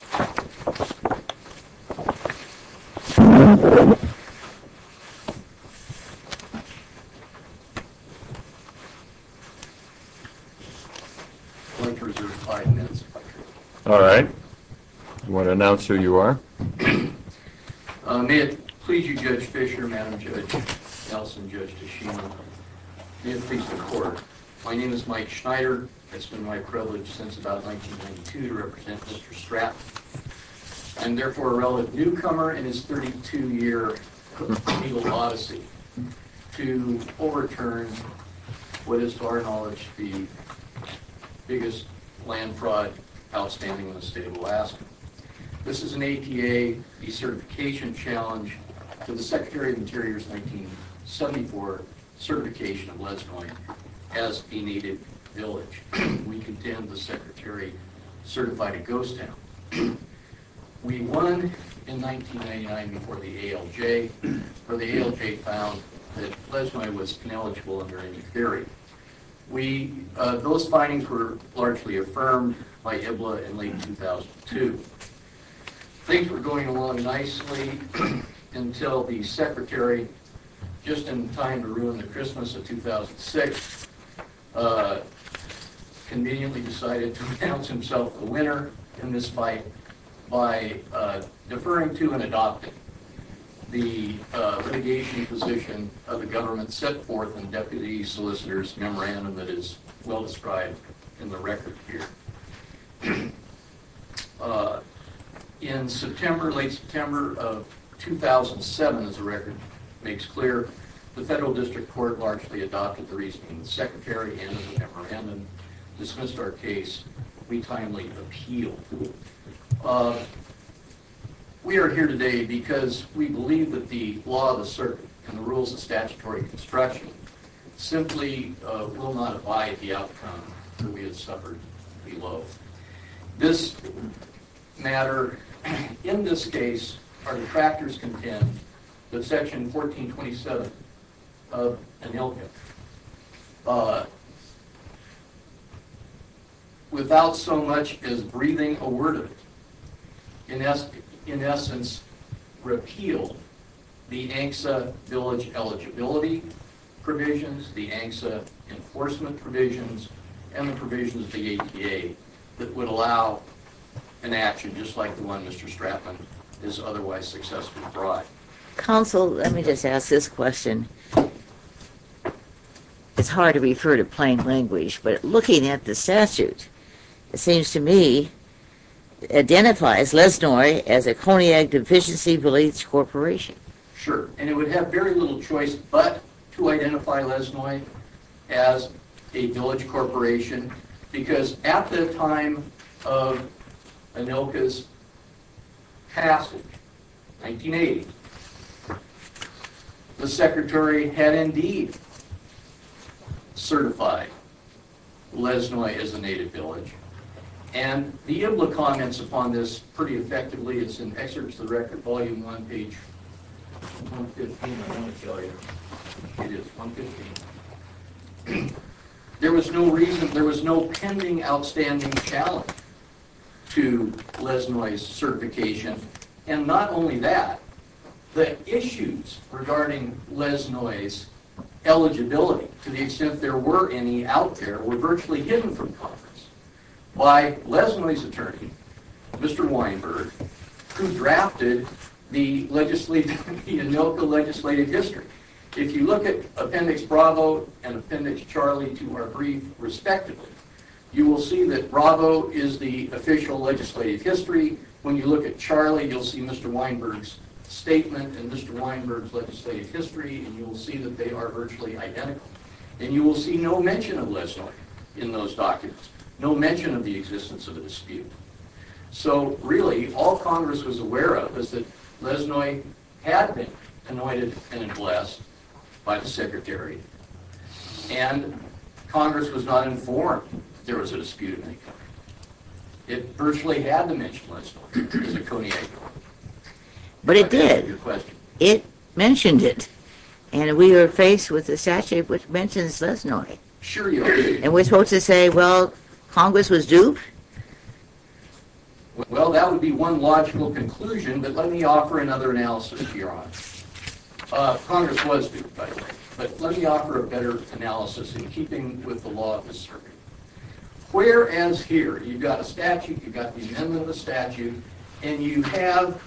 I'm going to reserve five minutes if I can. All right. Do you want to announce who you are? May it please you, Judge Fischer, Madam Judge, Nelson, Judge DeShima, may it please the Court, My name is Mike Schneider. It's been my privilege since about 1992 to represent Mr. Stratman, and therefore a relative newcomer in his 32-year legal odyssey, to overturn what is, to our knowledge, the biggest land fraud outstanding in the state of Alaska. This is an APA decertification challenge to the Secretary of the Interior's 1974 certification of Leisnoi as a needed village. We contend the Secretary certified a ghost town. We won in 1999 before the ALJ, where the ALJ found that Leisnoi was ineligible under any theory. We, those findings were largely affirmed by IBLA in late 2002. Things were going along nicely until the Secretary, just in time to ruin the Christmas of 2002, 2006, conveniently decided to announce himself the winner in this fight by deferring to and adopting the litigation position of the government set forth in the Deputy Solicitor's Memorandum that is well described in the record here. In September, late September of 2007, as the record makes clear, the Federal District Court largely adopted the reasoning of the Secretary and the Memorandum, dismissed our case, we timely appealed. We are here today because we believe that the law of the circuit and the rules of statutory construction simply will not abide the outcome that we have suffered below. This matter, in this case, our detractors contend that Section 1427 of ANILCA, without so much as breathing a word of it, in essence repealed the ANCSA village eligibility provisions, the ANCSA enforcement provisions, and the provisions of the APA that would allow an action just like the one Mr. Stratman has otherwise successfully brought. Counsel, let me just ask this question. It's hard to refer to plain language, but looking at the statute, it seems to me, identifies Lesnoy as a cognac deficiency beliefs corporation. Sure. And it would have very little choice but to identify Lesnoy as a village corporation because at the time of ANILCA's passage, 1980, the Secretary had indeed certified Lesnoy as a native village. And the IBLA comments upon this pretty effectively, it's in Excerpts of the Record, Volume 1, page 115, I want to show you, it is 115, there was no reason, there was no pending outstanding challenge to Lesnoy's certification. And not only that, the issues regarding Lesnoy's eligibility, to the extent there were any out there, were virtually hidden from conference by Lesnoy's attorney, Mr. Weinberg, who drafted the ANILCA legislative history. If you look at Appendix Bravo and Appendix Charlie to our brief, respectively, you will see that Bravo is the official legislative history, when you look at Charlie, you'll see Mr. Weinberg's statement and Mr. Weinberg's legislative history, and you will see that they are virtually identical, and you will see no mention of Lesnoy in those documents, no mention of the existence of a dispute. So really, all Congress was aware of was that Lesnoy had been anointed and blessed by the Secretary and Congress was not informed that there was a dispute in that country. It virtually had to mention Lesnoy as a Coney Agnew. But it did. It mentioned it. And we were faced with a statute which mentions Lesnoy. And we're supposed to say, well, Congress was duped? Well, that would be one logical conclusion, but let me offer another analysis to your honor. Congress was duped, by the way, but let me offer a better analysis in keeping with the law of the circuit. Where as here, you've got a statute, you've got the amendment of the statute, and you have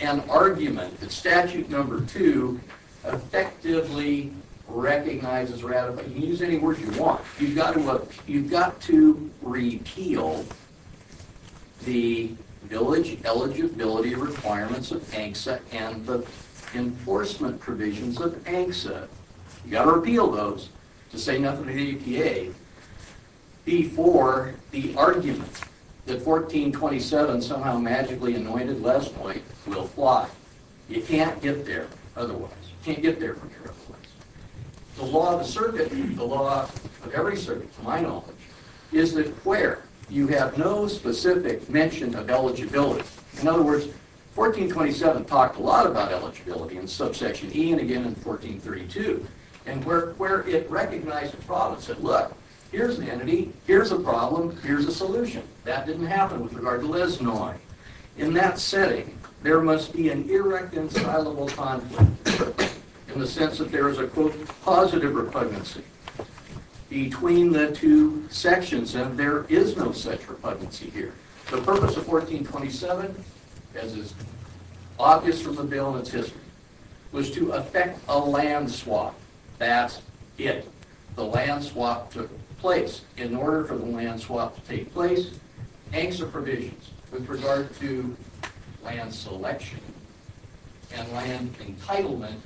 an argument that statute number two effectively recognizes ratified, you can use any word you want, you've got to repeal the village eligibility requirements of ANCSA and the enforcement provisions of ANCSA. You've got to repeal those to say nothing to the EPA before the argument that 1427 somehow magically anointed Lesnoy will fly. You can't get there otherwise. You can't get there from here otherwise. The law of the circuit, the law of every circuit to my knowledge, is that where you have no specific mention of eligibility, in other words, 1427 talked a lot about eligibility in subsection E and again in 1432, and where it recognized the problem, said look, here's an entity, here's a problem, here's a solution. That didn't happen with regard to Lesnoy. In that setting, there must be an irreconcilable conflict in the sense that there is a quote positive repugnancy between the two sections and there is no such repugnancy here. The purpose of 1427, as is obvious from the bill and its history, was to effect a land swap. That's it. The land swap took place. In order for the land swap to take place, ANCSA provisions with regard to land selection and land entitlement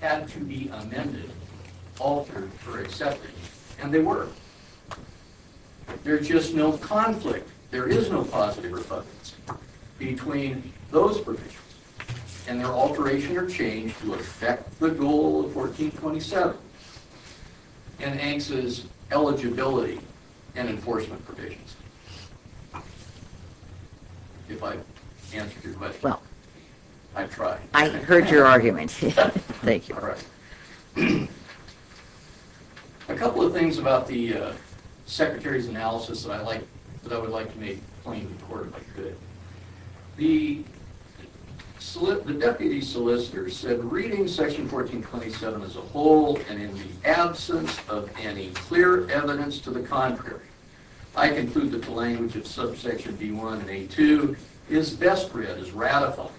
had to be amended, altered for acceptance, and they were. There's just no conflict. There is no positive repugnancy between those provisions and their alteration or change to effect the goal of 1427 and ANCSA's eligibility and enforcement provisions. If I answered your question. Well. I tried. I heard your argument. Thank you. All right. A couple of things about the Secretary's analysis that I would like to make plain and recorded, if I could. The Deputy Solicitor said, reading section 1427 as a whole and in the absence of any clear evidence to the contrary, I conclude that the language of subsection B1 and A2 is best read, is ratified,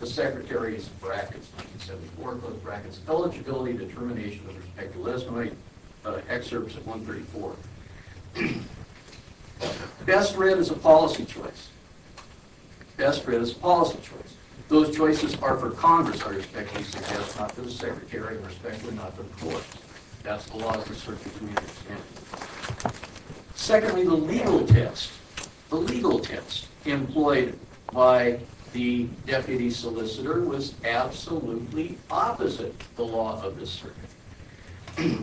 the Secretary's, brackets 1974, close brackets, eligibility determination with respect to Lesnoy, excerpts of 134. Best read is a policy choice. Best read is a policy choice. Those choices are for Congress, I respectfully suggest, not for the Secretary, and respectfully not for the courts. That's the law of the circuit, as we understand it. Secondly, the legal test, the legal test employed by the Deputy Solicitor was absolutely opposite the law of the circuit,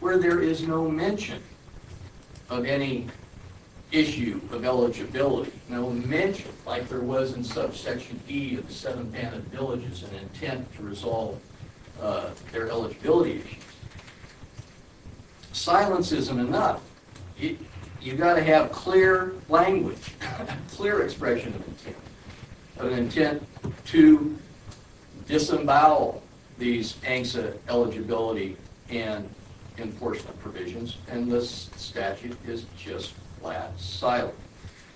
where there is no mention of any issue of eligibility, no mention, like there was in subsection E of the seven banned villages and intent to resolve their eligibility issue. Silence isn't enough. You've got to have clear language, clear expression of intent, of intent to disembowel these ANCSA eligibility and enforcement provisions, and this statute is just flat silent.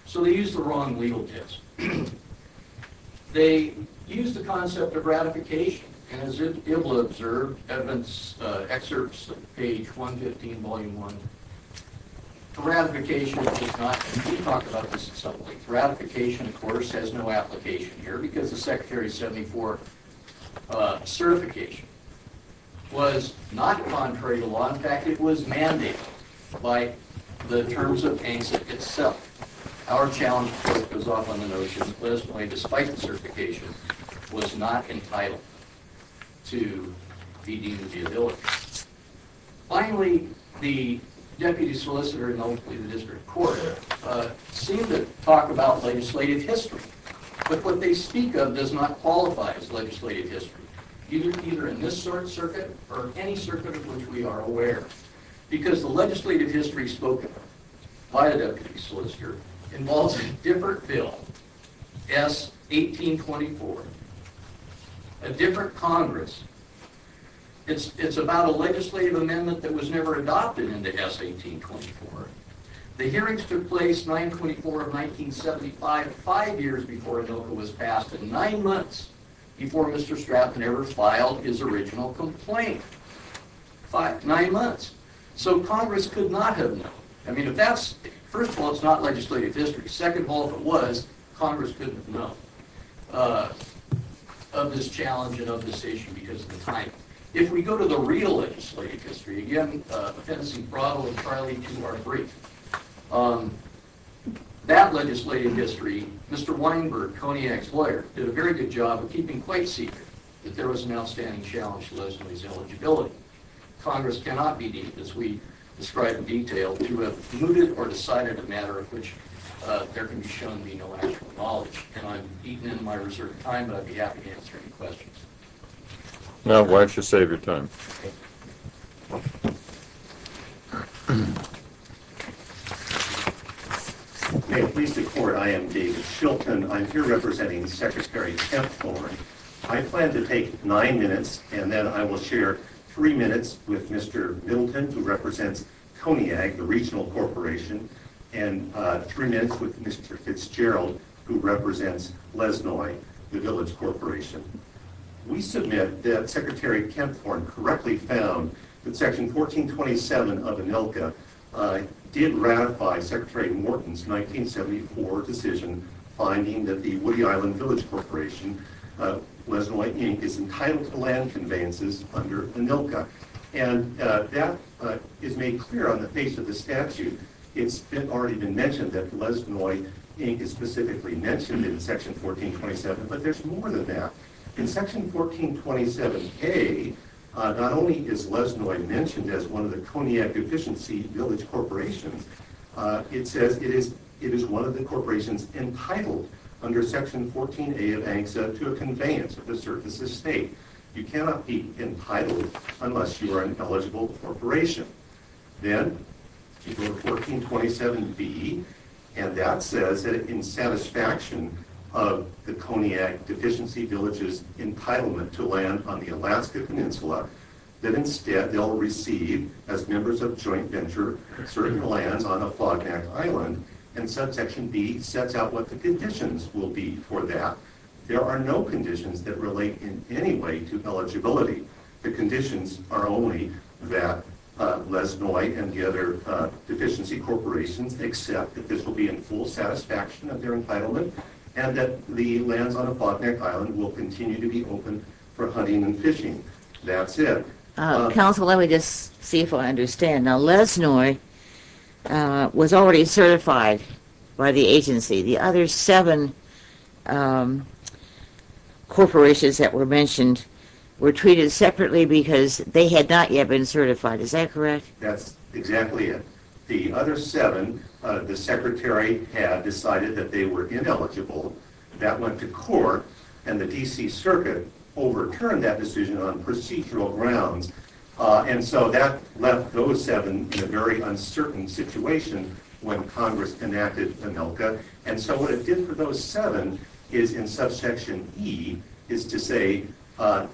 So they used the wrong legal test. They used the concept of ratification, and as you'll be able to observe, Edmund's excerpts on page 115, volume 1, ratification does not, we've talked about this at some point, ratification of course has no application here because the Secretary's 74 certification was not contrary to law, in fact it was mandated by the terms of ANCSA itself. Our challenge, of course, goes off on the notion that this one, despite the certification, was not entitled to be deemed eligible. Finally, the Deputy Solicitor and hopefully the District Court seem to talk about legislative history, but what they speak of does not qualify as legislative history, either in this circuit or any circuit of which we are aware. Because the legislative history spoken by a Deputy Solicitor involves a different bill, S. 1824, a different Congress, it's about a legislative amendment that was never adopted into S. 1824. The hearings took place 9-24 of 1975, five years before ADOCA was passed, and nine months before Mr. Stratton ever filed his original complaint. Five, nine months. So Congress could not have known. I mean, first of all, it's not legislative history. Second of all, if it was, Congress couldn't have known of this challenge and of this issue because of the time. If we go to the real legislative history, again, the fencing brought entirely to our That legislative history, Mr. Weinberg, CONIAC's lawyer, did a very good job of keeping quite secret that there was an outstanding challenge to those with his eligibility. Congress cannot be deemed, as we described in detail, to have mooted or decided a matter of which there can be shown to be no actual knowledge, and I've eaten into my reserve of time, but I'd be happy to answer any questions. Now, why don't you save your time? May it please the Court, I am David Shilton, I'm here representing Secretary Kempthorne. I plan to take nine minutes, and then I will share three minutes with Mr. Middleton, who represents CONIAC, the regional corporation, and three minutes with Mr. Fitzgerald, who represents Lesnoi, the village corporation. We submit that Secretary Kempthorne correctly found that Section 1427 of ANILCA did ratify Secretary Morton's 1974 decision finding that the Woody Island Village Corporation, Lesnoi, Inc., is entitled to land conveyances under ANILCA. And that is made clear on the face of the statute. It's already been mentioned that Lesnoi, Inc. is specifically mentioned in Section 1427, but there's more than that. In Section 1427K, not only is Lesnoi mentioned as one of the CONIAC efficiency village corporations, it says it is one of the corporations entitled under Section 14A of ANCSA to a conveyance of a certain estate. You cannot be entitled unless you are an eligible corporation. Then, you go to 1427B, and that says that in satisfaction of the CONIAC efficiency village's entitlement to land on the Alaska Peninsula, that instead they'll receive, as members of the board, land on the Fognac Island, and Section B sets out what the conditions will be for that. There are no conditions that relate in any way to eligibility. The conditions are only that Lesnoi and the other deficiency corporations accept that this will be in full satisfaction of their entitlement, and that the lands on the Fognac Island will continue to be open for hunting and fishing. That's it. Counsel, let me just see if I understand. Now, Lesnoi was already certified by the agency. The other seven corporations that were mentioned were treated separately because they had not yet been certified. Is that correct? That's exactly it. The other seven, the secretary had decided that they were ineligible. That went to court, and the D.C. Circuit overturned that decision on procedural grounds. That left those seven in a very uncertain situation when Congress enacted ANILCA. What it did for those seven is, in subsection E, is to say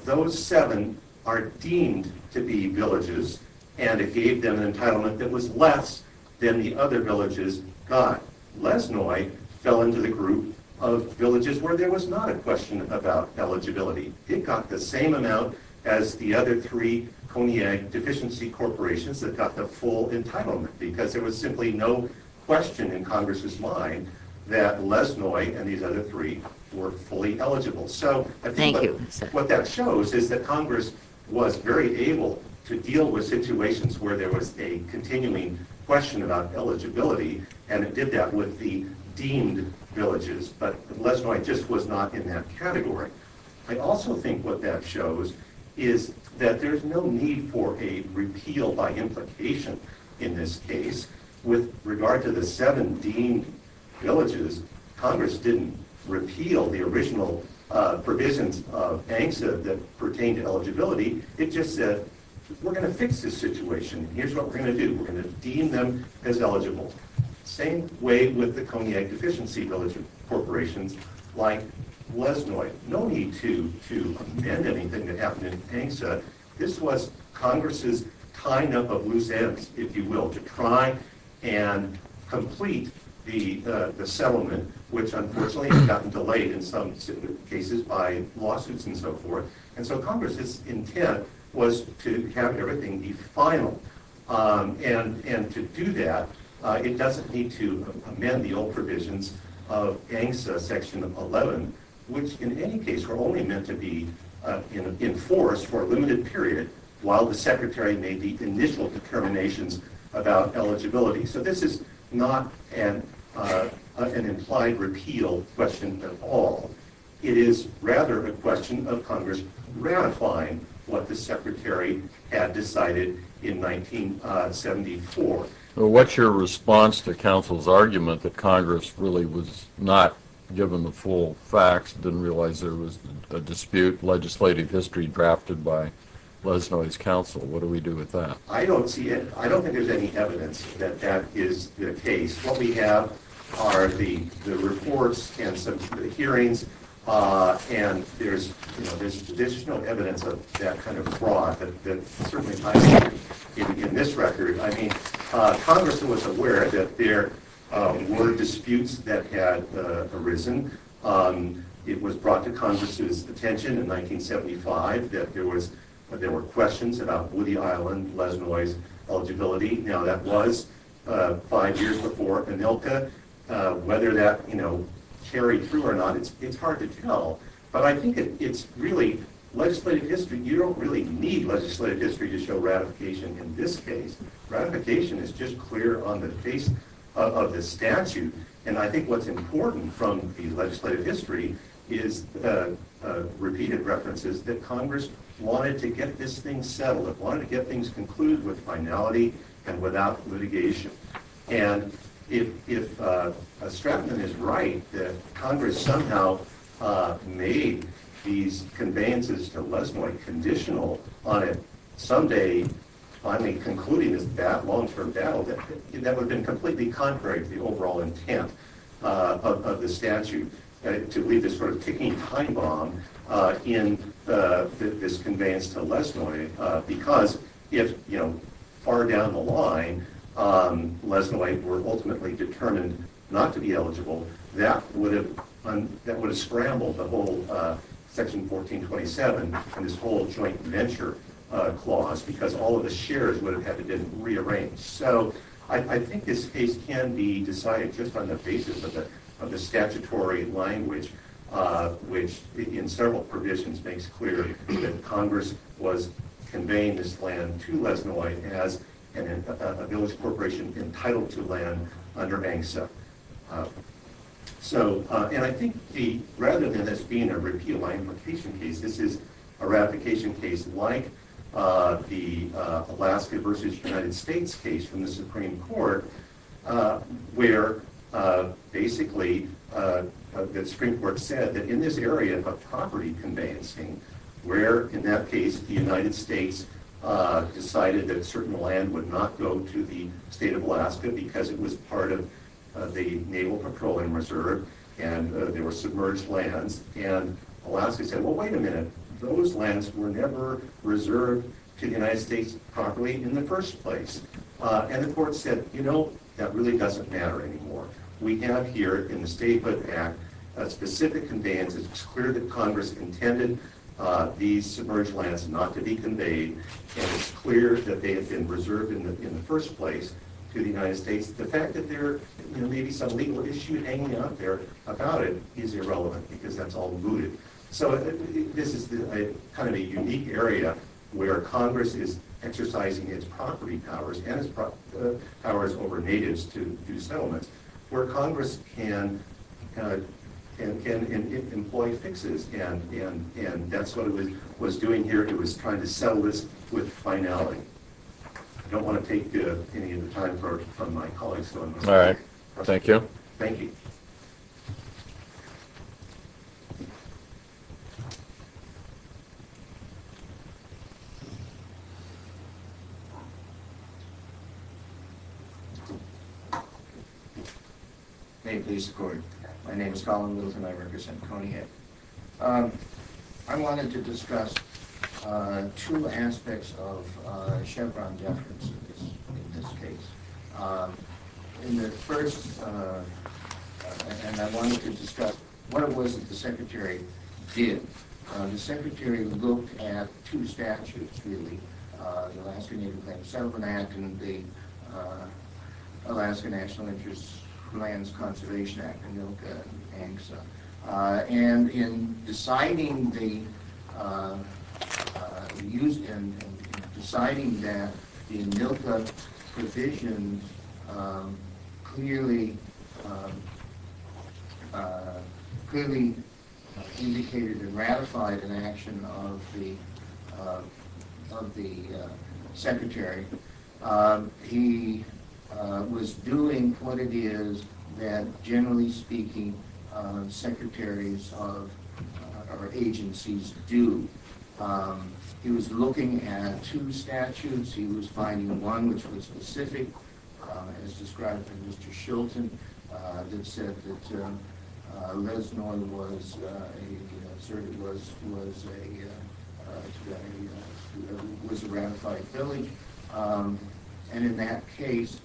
those seven are deemed to be villages, and it gave them an entitlement that was less than the other villages got. Lesnoi fell into the group of villages where there was not a question about eligibility. It got the same amount as the other three cognac deficiency corporations that got the full entitlement because there was simply no question in Congress's mind that Lesnoi and these other three were fully eligible. Thank you. What that shows is that Congress was very able to deal with situations where there was a continuing question about eligibility, and it did that with the deemed villages. But Lesnoi just was not in that category. I also think what that shows is that there's no need for a repeal by implication in this case. With regard to the seven deemed villages, Congress didn't repeal the original provisions of ANCSA that pertained to eligibility. It just said, we're going to fix this situation, and here's what we're going to do. We're going to deem them as eligible. Same way with the cognac deficiency village corporations like Lesnoi. No need to amend anything that happened in ANCSA. This was Congress's tying up of loose ends, if you will, to try and complete the settlement, which unfortunately has gotten delayed in some cases by lawsuits and so forth. Congress's intent was to have everything be final. To do that, it doesn't need to amend the old provisions of ANCSA Section 11, which in any case were only meant to be enforced for a limited period while the Secretary made the initial determinations about eligibility. This is not an implied repeal question at all. It is rather a question of Congress ratifying what the Secretary had decided in 1974. What's your response to counsel's argument that Congress really was not given the full facts, didn't realize there was a dispute, legislative history drafted by Lesnoi's counsel? What do we do with that? I don't see it. I don't think there's any evidence that that is the case. What we have are the reports and some hearings, and there's additional evidence of that kind of fraud that certainly ties in. In this record, Congress was aware that there were disputes that had arisen. It was brought to Congress's attention in 1975 that there were questions about Woody Island, Lesnoi's eligibility. Now that was five years before ANILCA. Whether that carried through or not, it's hard to tell. But I think it's really legislative history. You don't really need legislative history to show ratification in this case. Ratification is just clear on the face of the statute. And I think what's important from the legislative history is repeated references that Congress wanted to get this thing settled. It wanted to get things concluded with finality and without litigation. And if Stratton is right that Congress somehow made these conveyances to Lesnoi conditional on it someday finally concluding this long-term battle, that would have been completely contrary to the overall intent of the statute to leave this sort of ticking time bomb in this conveyance to Lesnoi because if far down the line Lesnoi were ultimately determined not to be eligible, that would have scrambled the whole Section 1427 and this whole joint venture clause because all of the shares would have had to be rearranged. So I think this case can be decided just on the basis of the statutory language which in several provisions makes clear that Congress was conveying this land to Lesnoi as a village corporation entitled to land under MANGSA. And I think rather than this being a repeal ratification case, this is a ratification case like the Alaska versus United States case from the Supreme Court where basically the Supreme Court said that in this area of property conveyancing where in that case the United States decided that certain land would not go to the state of Alaska because it was part of the Naval Patrol and Reserve and they were submerged lands and Alaska said well wait a minute, those lands were never reserved to the United States properly in the first place. And the court said you know that really doesn't matter anymore. We have here in the Statehood Act specific conveyances. It's clear that Congress intended these submerged lands not to be conveyed and it's clear that they have been reserved in the first place to the United States. The fact that there may be some legal issue hanging out there about it is irrelevant because that's all mooted. So this is kind of a unique area where Congress is exercising its property powers and its property powers over natives to do settlements where Congress can employ fixes and that's what it was doing here. It was trying to settle this with finality. I don't want to take any of the time from my colleagues. Alright, thank you. Thank you. May it please the court. My name is Collin Lewis and I represent Coney Head. I wanted to discuss two aspects of Chevron deference in this case. In the first, and I wanted to discuss what it was that the Secretary did. The Secretary looked at two statutes really. The Alaska Native Land Settlement Act and the Alaska National Interest Lands Conservation Act, ANILCA and ANCSA. And in deciding that the ANILCA provision clearly indicated and ratified an action of the Secretary, he was doing what it is that generally speaking secretaries of agencies do. He was looking at two statutes, he was finding one which was specific as described by Mr. and in that case,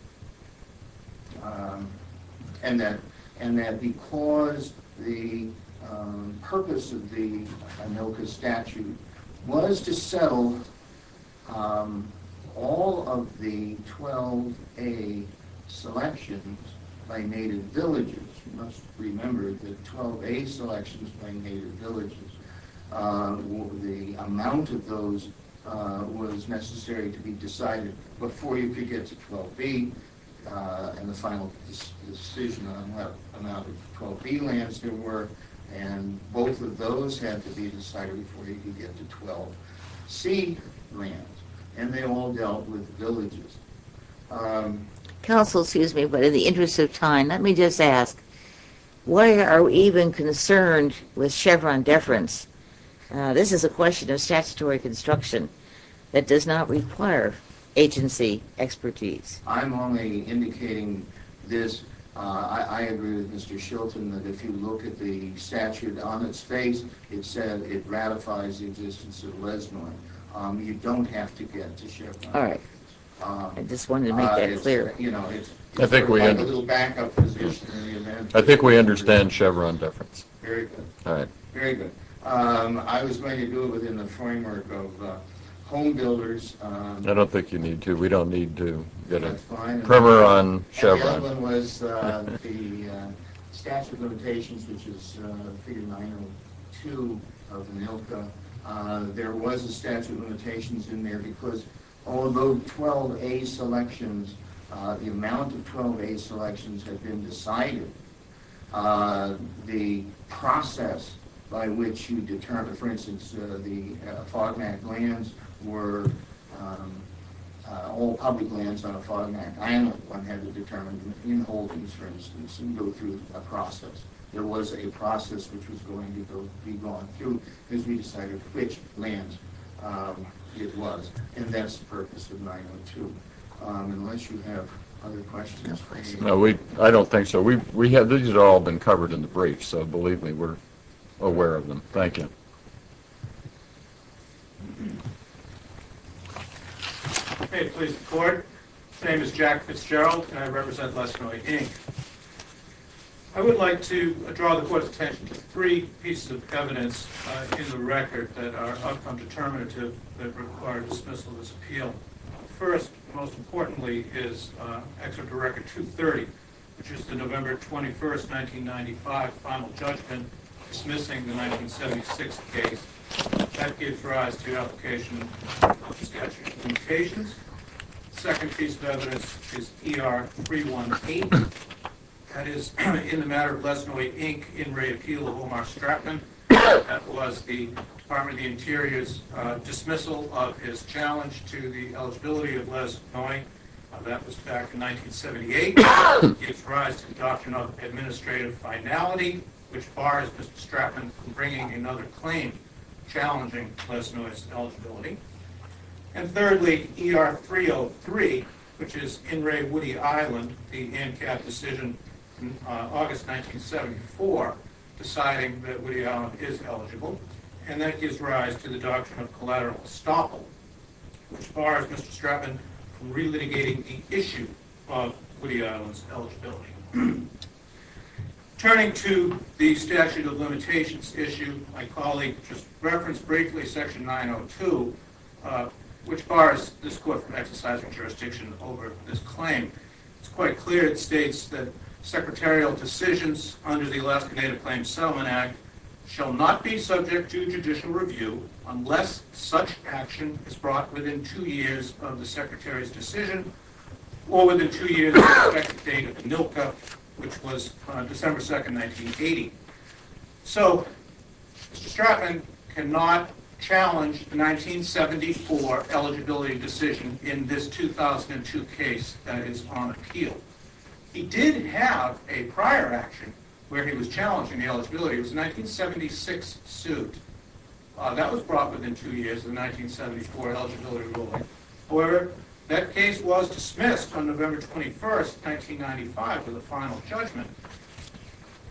and that because the purpose of the ANILCA statute was to settle all of the 12A selections by native villages, you must remember that 12A selections by native villages was necessary to be decided before you could get to 12B and the final decision on what amount of 12B lands there were and both of those had to be decided before you could get to 12C lands and they all dealt with villages. Counsel, excuse me, but in the interest of time, let me just ask, why are we even concerned with Chevron deference? This is a question of statutory construction that does not require agency expertise. I'm only indicating this. I agree with Mr. Shilton that if you look at the statute on its face, it said it ratifies the existence of Lesnoy. You don't have to get to Chevron. All right. I just wanted to make that clear. You know, it's sort of like a little backup position in the amendment. I think we understand Chevron deference. Very good. All right. Very good. I was going to do it within the framework of home builders. I don't think you need to. We don't need to get a primer on Chevron. The other one was the statute of limitations, which is figure 902 of the NILCA. There was a statute of limitations in there because although 12A selections, the amount of 12A selections have been decided, the process by which you determine, for instance, the FOGMAC lands were all public lands on a FOGMAC island. One had to determine in holdings, for instance, and go through a process. There was a process which was going to be gone through because we decided which land it was. And that's the purpose of 902. Unless you have other questions. No, I don't think so. These have all been covered in the brief, so believe me, we're aware of them. Thank you. May it please the court. My name is Jack Fitzgerald, and I represent Lesternoy, Inc. I would like to draw the court's attention to three pieces of evidence in the record that are outcome determinative that require dismissal of this appeal. First, most importantly, is Excerpt of Record 230, which is the November 21, 1995, final judgment dismissing the 1976 case. That gives rise to application of statute of limitations. The second piece of evidence is ER-318. That is in the matter of Lesternoy, Inc., in re-appeal of Omar Stratman. That was the Department of the Interior's dismissal of his challenge to the eligibility of Lesternoy. That was back in 1978. That gives rise to the doctrine of administrative finality, which bars Mr. Stratman from bringing another claim challenging Lesternoy's eligibility. And thirdly, ER-303, which is in Ray Woody Island, the ANCAP decision in August 1974, deciding that Woody Island is eligible. And that gives rise to the doctrine of collateral estoppel, which bars Mr. Stratman from re-litigating the issue of Woody Island's eligibility. Turning to the statute of limitations issue, my colleague just referenced briefly Section 902, which bars this court from exercising jurisdiction over this claim. It's quite clear it states that secretarial decisions under the Alaska Native Claims Settlement Act shall not be subject to judicial review unless such action is brought within two years of the Secretary's decision or within two years of the expected date of ANILCA, which was December 2, 1980. So, Mr. Stratman cannot challenge the 1974 eligibility decision in this 2002 case that is on appeal. He did have a prior action where he was challenging the eligibility. It was a 1976 suit. That was brought within two years of the 1974 eligibility ruling. However, that case was dismissed on November 21, 1995 for the final judgment.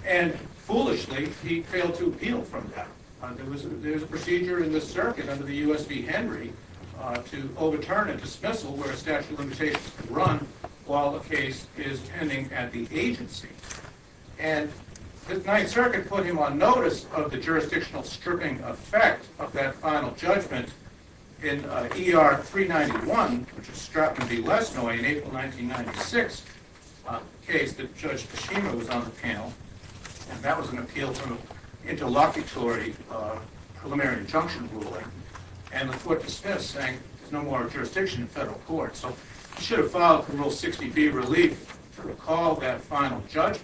And, foolishly, he failed to appeal from that. There was a procedure in the circuit under the U.S. v. Henry to overturn a dismissal where a statute of limitations could run while the case is pending at the agency. And the Ninth Circuit put him on notice of the jurisdictional stripping effect of that final judgment in ER 391, which is Stratman v. Lesnoi, in April 1996, a case that Judge Peschema was on the panel. And that was an appeal from an interlocutory preliminary injunction ruling. And the court dismissed, saying, there's no more jurisdiction in federal court. So, he should have filed for Rule 60b, Relief, to recall that final judgment,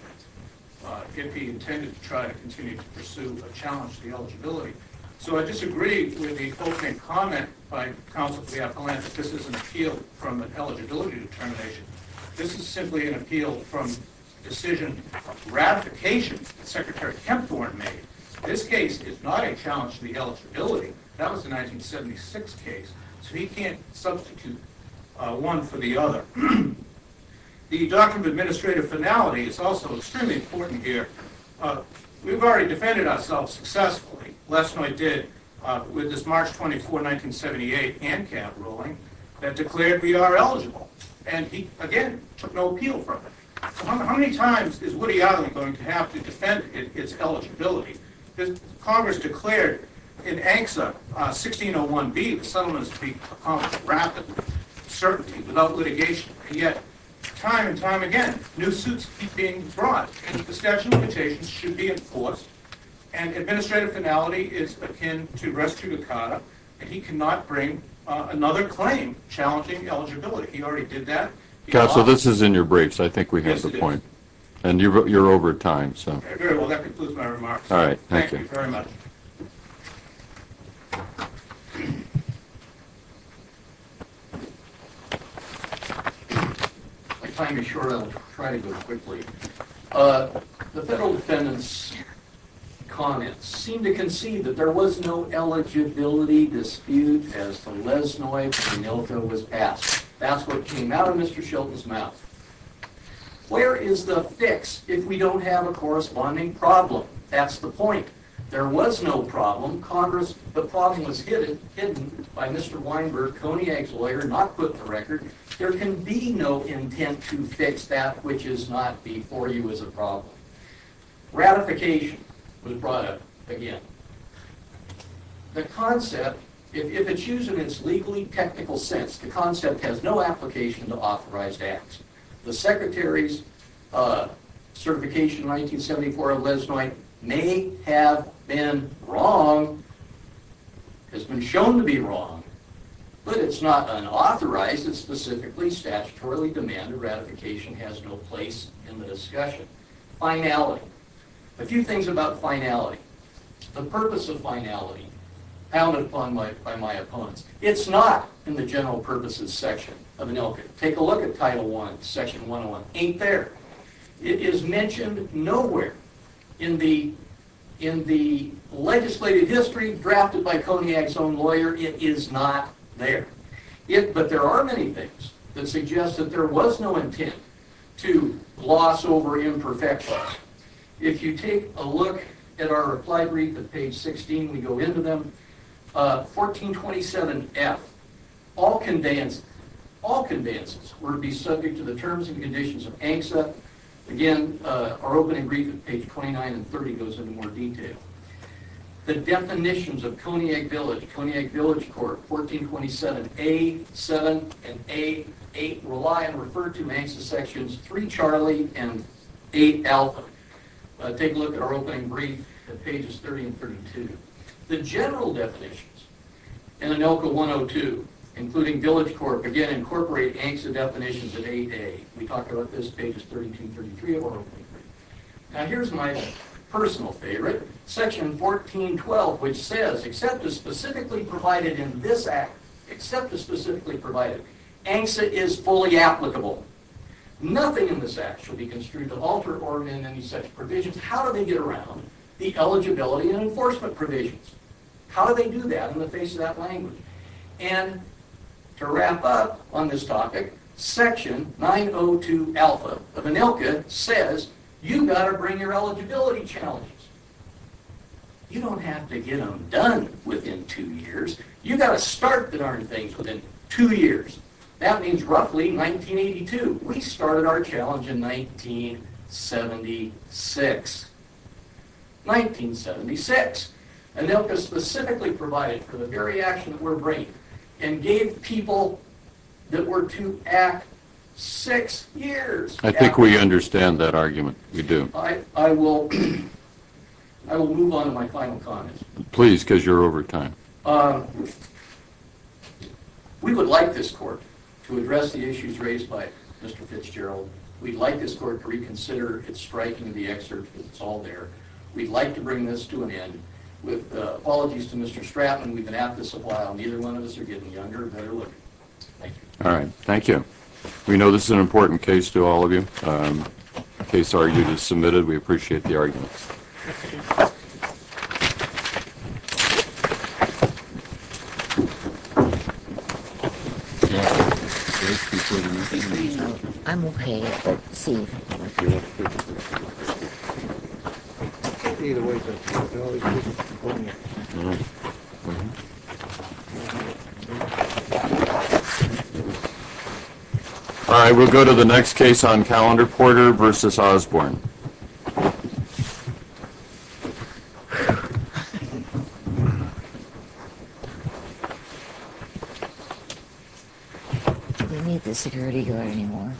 if he intended to try to continue to pursue a challenge to the eligibility. So, I disagree with the postmate comment by Counsel to the Appellant that this is an appeal from an eligibility determination. This is simply an appeal from decision ratification that Secretary Kempthorne made. This case is not a challenge to the eligibility. That was a 1976 case, so he can't substitute one for the other. The Doctrine of Administrative Finality is also extremely important here. We've already defended ourselves successfully, Lesnoi did, with this March 24, 1978, ANCAP ruling that declared we are eligible. And he, again, took no appeal from it. So, how many times is Woody Allen going to have to defend its eligibility? Because Congress declared in ANCSA, 1601b, the settlement is to be accomplished rapidly, with certainty, without litigation. And yet, time and time again, new suits keep being brought. The statute of limitations should be enforced. And Administrative Finality is akin to res judicata. And he cannot bring another claim challenging eligibility. He already did that. Counsel, this is in your briefs. I think we hit the point. Yes, it is. And you're over time, so. Very well, that concludes my remarks. Thank you very much. My time is short. I'll try to go quickly. The Federal Defendant's comments seem to concede that there was no eligibility dispute as to Lesnoi and Milto was passed. That's what came out of Mr. Shelton's mouth. Where is the fix if we don't have a corresponding problem? That's the point. There was no problem. Congress, the problem was hidden by Mr. Weinberg, Coniac's lawyer, not put in the record. There can be no intent to fix that which is not before you as a problem. Ratification was brought up again. The concept, if it's used in its legally technical sense, the concept has no application to authorized acts. The Secretary's certification in 1974 of Lesnoi may have been wrong, has been shown to be wrong, but it's not unauthorized. It's specifically statutorily demanded. Ratification has no place in the discussion. Finality. A few things about finality. The purpose of finality, pounded upon by my opponents. It's not in the general purposes section of an ILCA. Take a look at Title I, Section 101. Ain't there. It is mentioned nowhere in the legislative history drafted by Coniac's own lawyer. It is not there. But there are many things that suggest that there was no intent to gloss over imperfection. If you take a look at our reply brief at page 16, we go into them. 1427F. All conveyances were to be subject to the terms and conditions of ANCSA. Again, our opening brief at page 29 and 30 goes into more detail. The definitions of Coniac Village, Coniac Village Court, 1427A, 7, and A, 8, rely on referred to in ANCSA sections 3 Charlie and 8 Alpha. Take a look at our opening brief at pages 30 and 32. The general definitions in ANILCA 102, including Village Court, again incorporate ANCSA definitions at 8A. We talk about this at pages 32 and 33 of our opening brief. Now here's my personal favorite. Section 1412, which says, except as specifically provided in this Act, except as specifically provided, ANCSA is fully applicable. Nothing in this Act shall be construed to alter or amend any such provisions. How do they get around the eligibility and enforcement provisions? How do they do that in the face of that language? And to wrap up on this topic, section 902 Alpha of ANILCA says, you've got to bring your eligibility challenges. You don't have to get them done within two years. You've got to start the darn thing within two years. That means roughly 1982. We started our challenge in 1976. 1976. ANILCA specifically provided for the very action that we're bringing and gave people that were to act six years. I think we understand that argument. We do. I will move on to my final comments. Please, because you're over time. We would like this Court to address the issues raised by Mr. Fitzgerald. We'd like this Court to reconsider its striking of the excerpt that's all there. We'd like to bring this to an end. With apologies to Mr. Stratton, we've been at this a while. Neither one of us are getting younger and better looking. Thank you. All right. Thank you. We know this is an important case to all of you. The case argument is submitted. We appreciate the argument. All right. We'll go to the next case on Calendar Porter v. Osborne. Do we need the security guard anymore? No.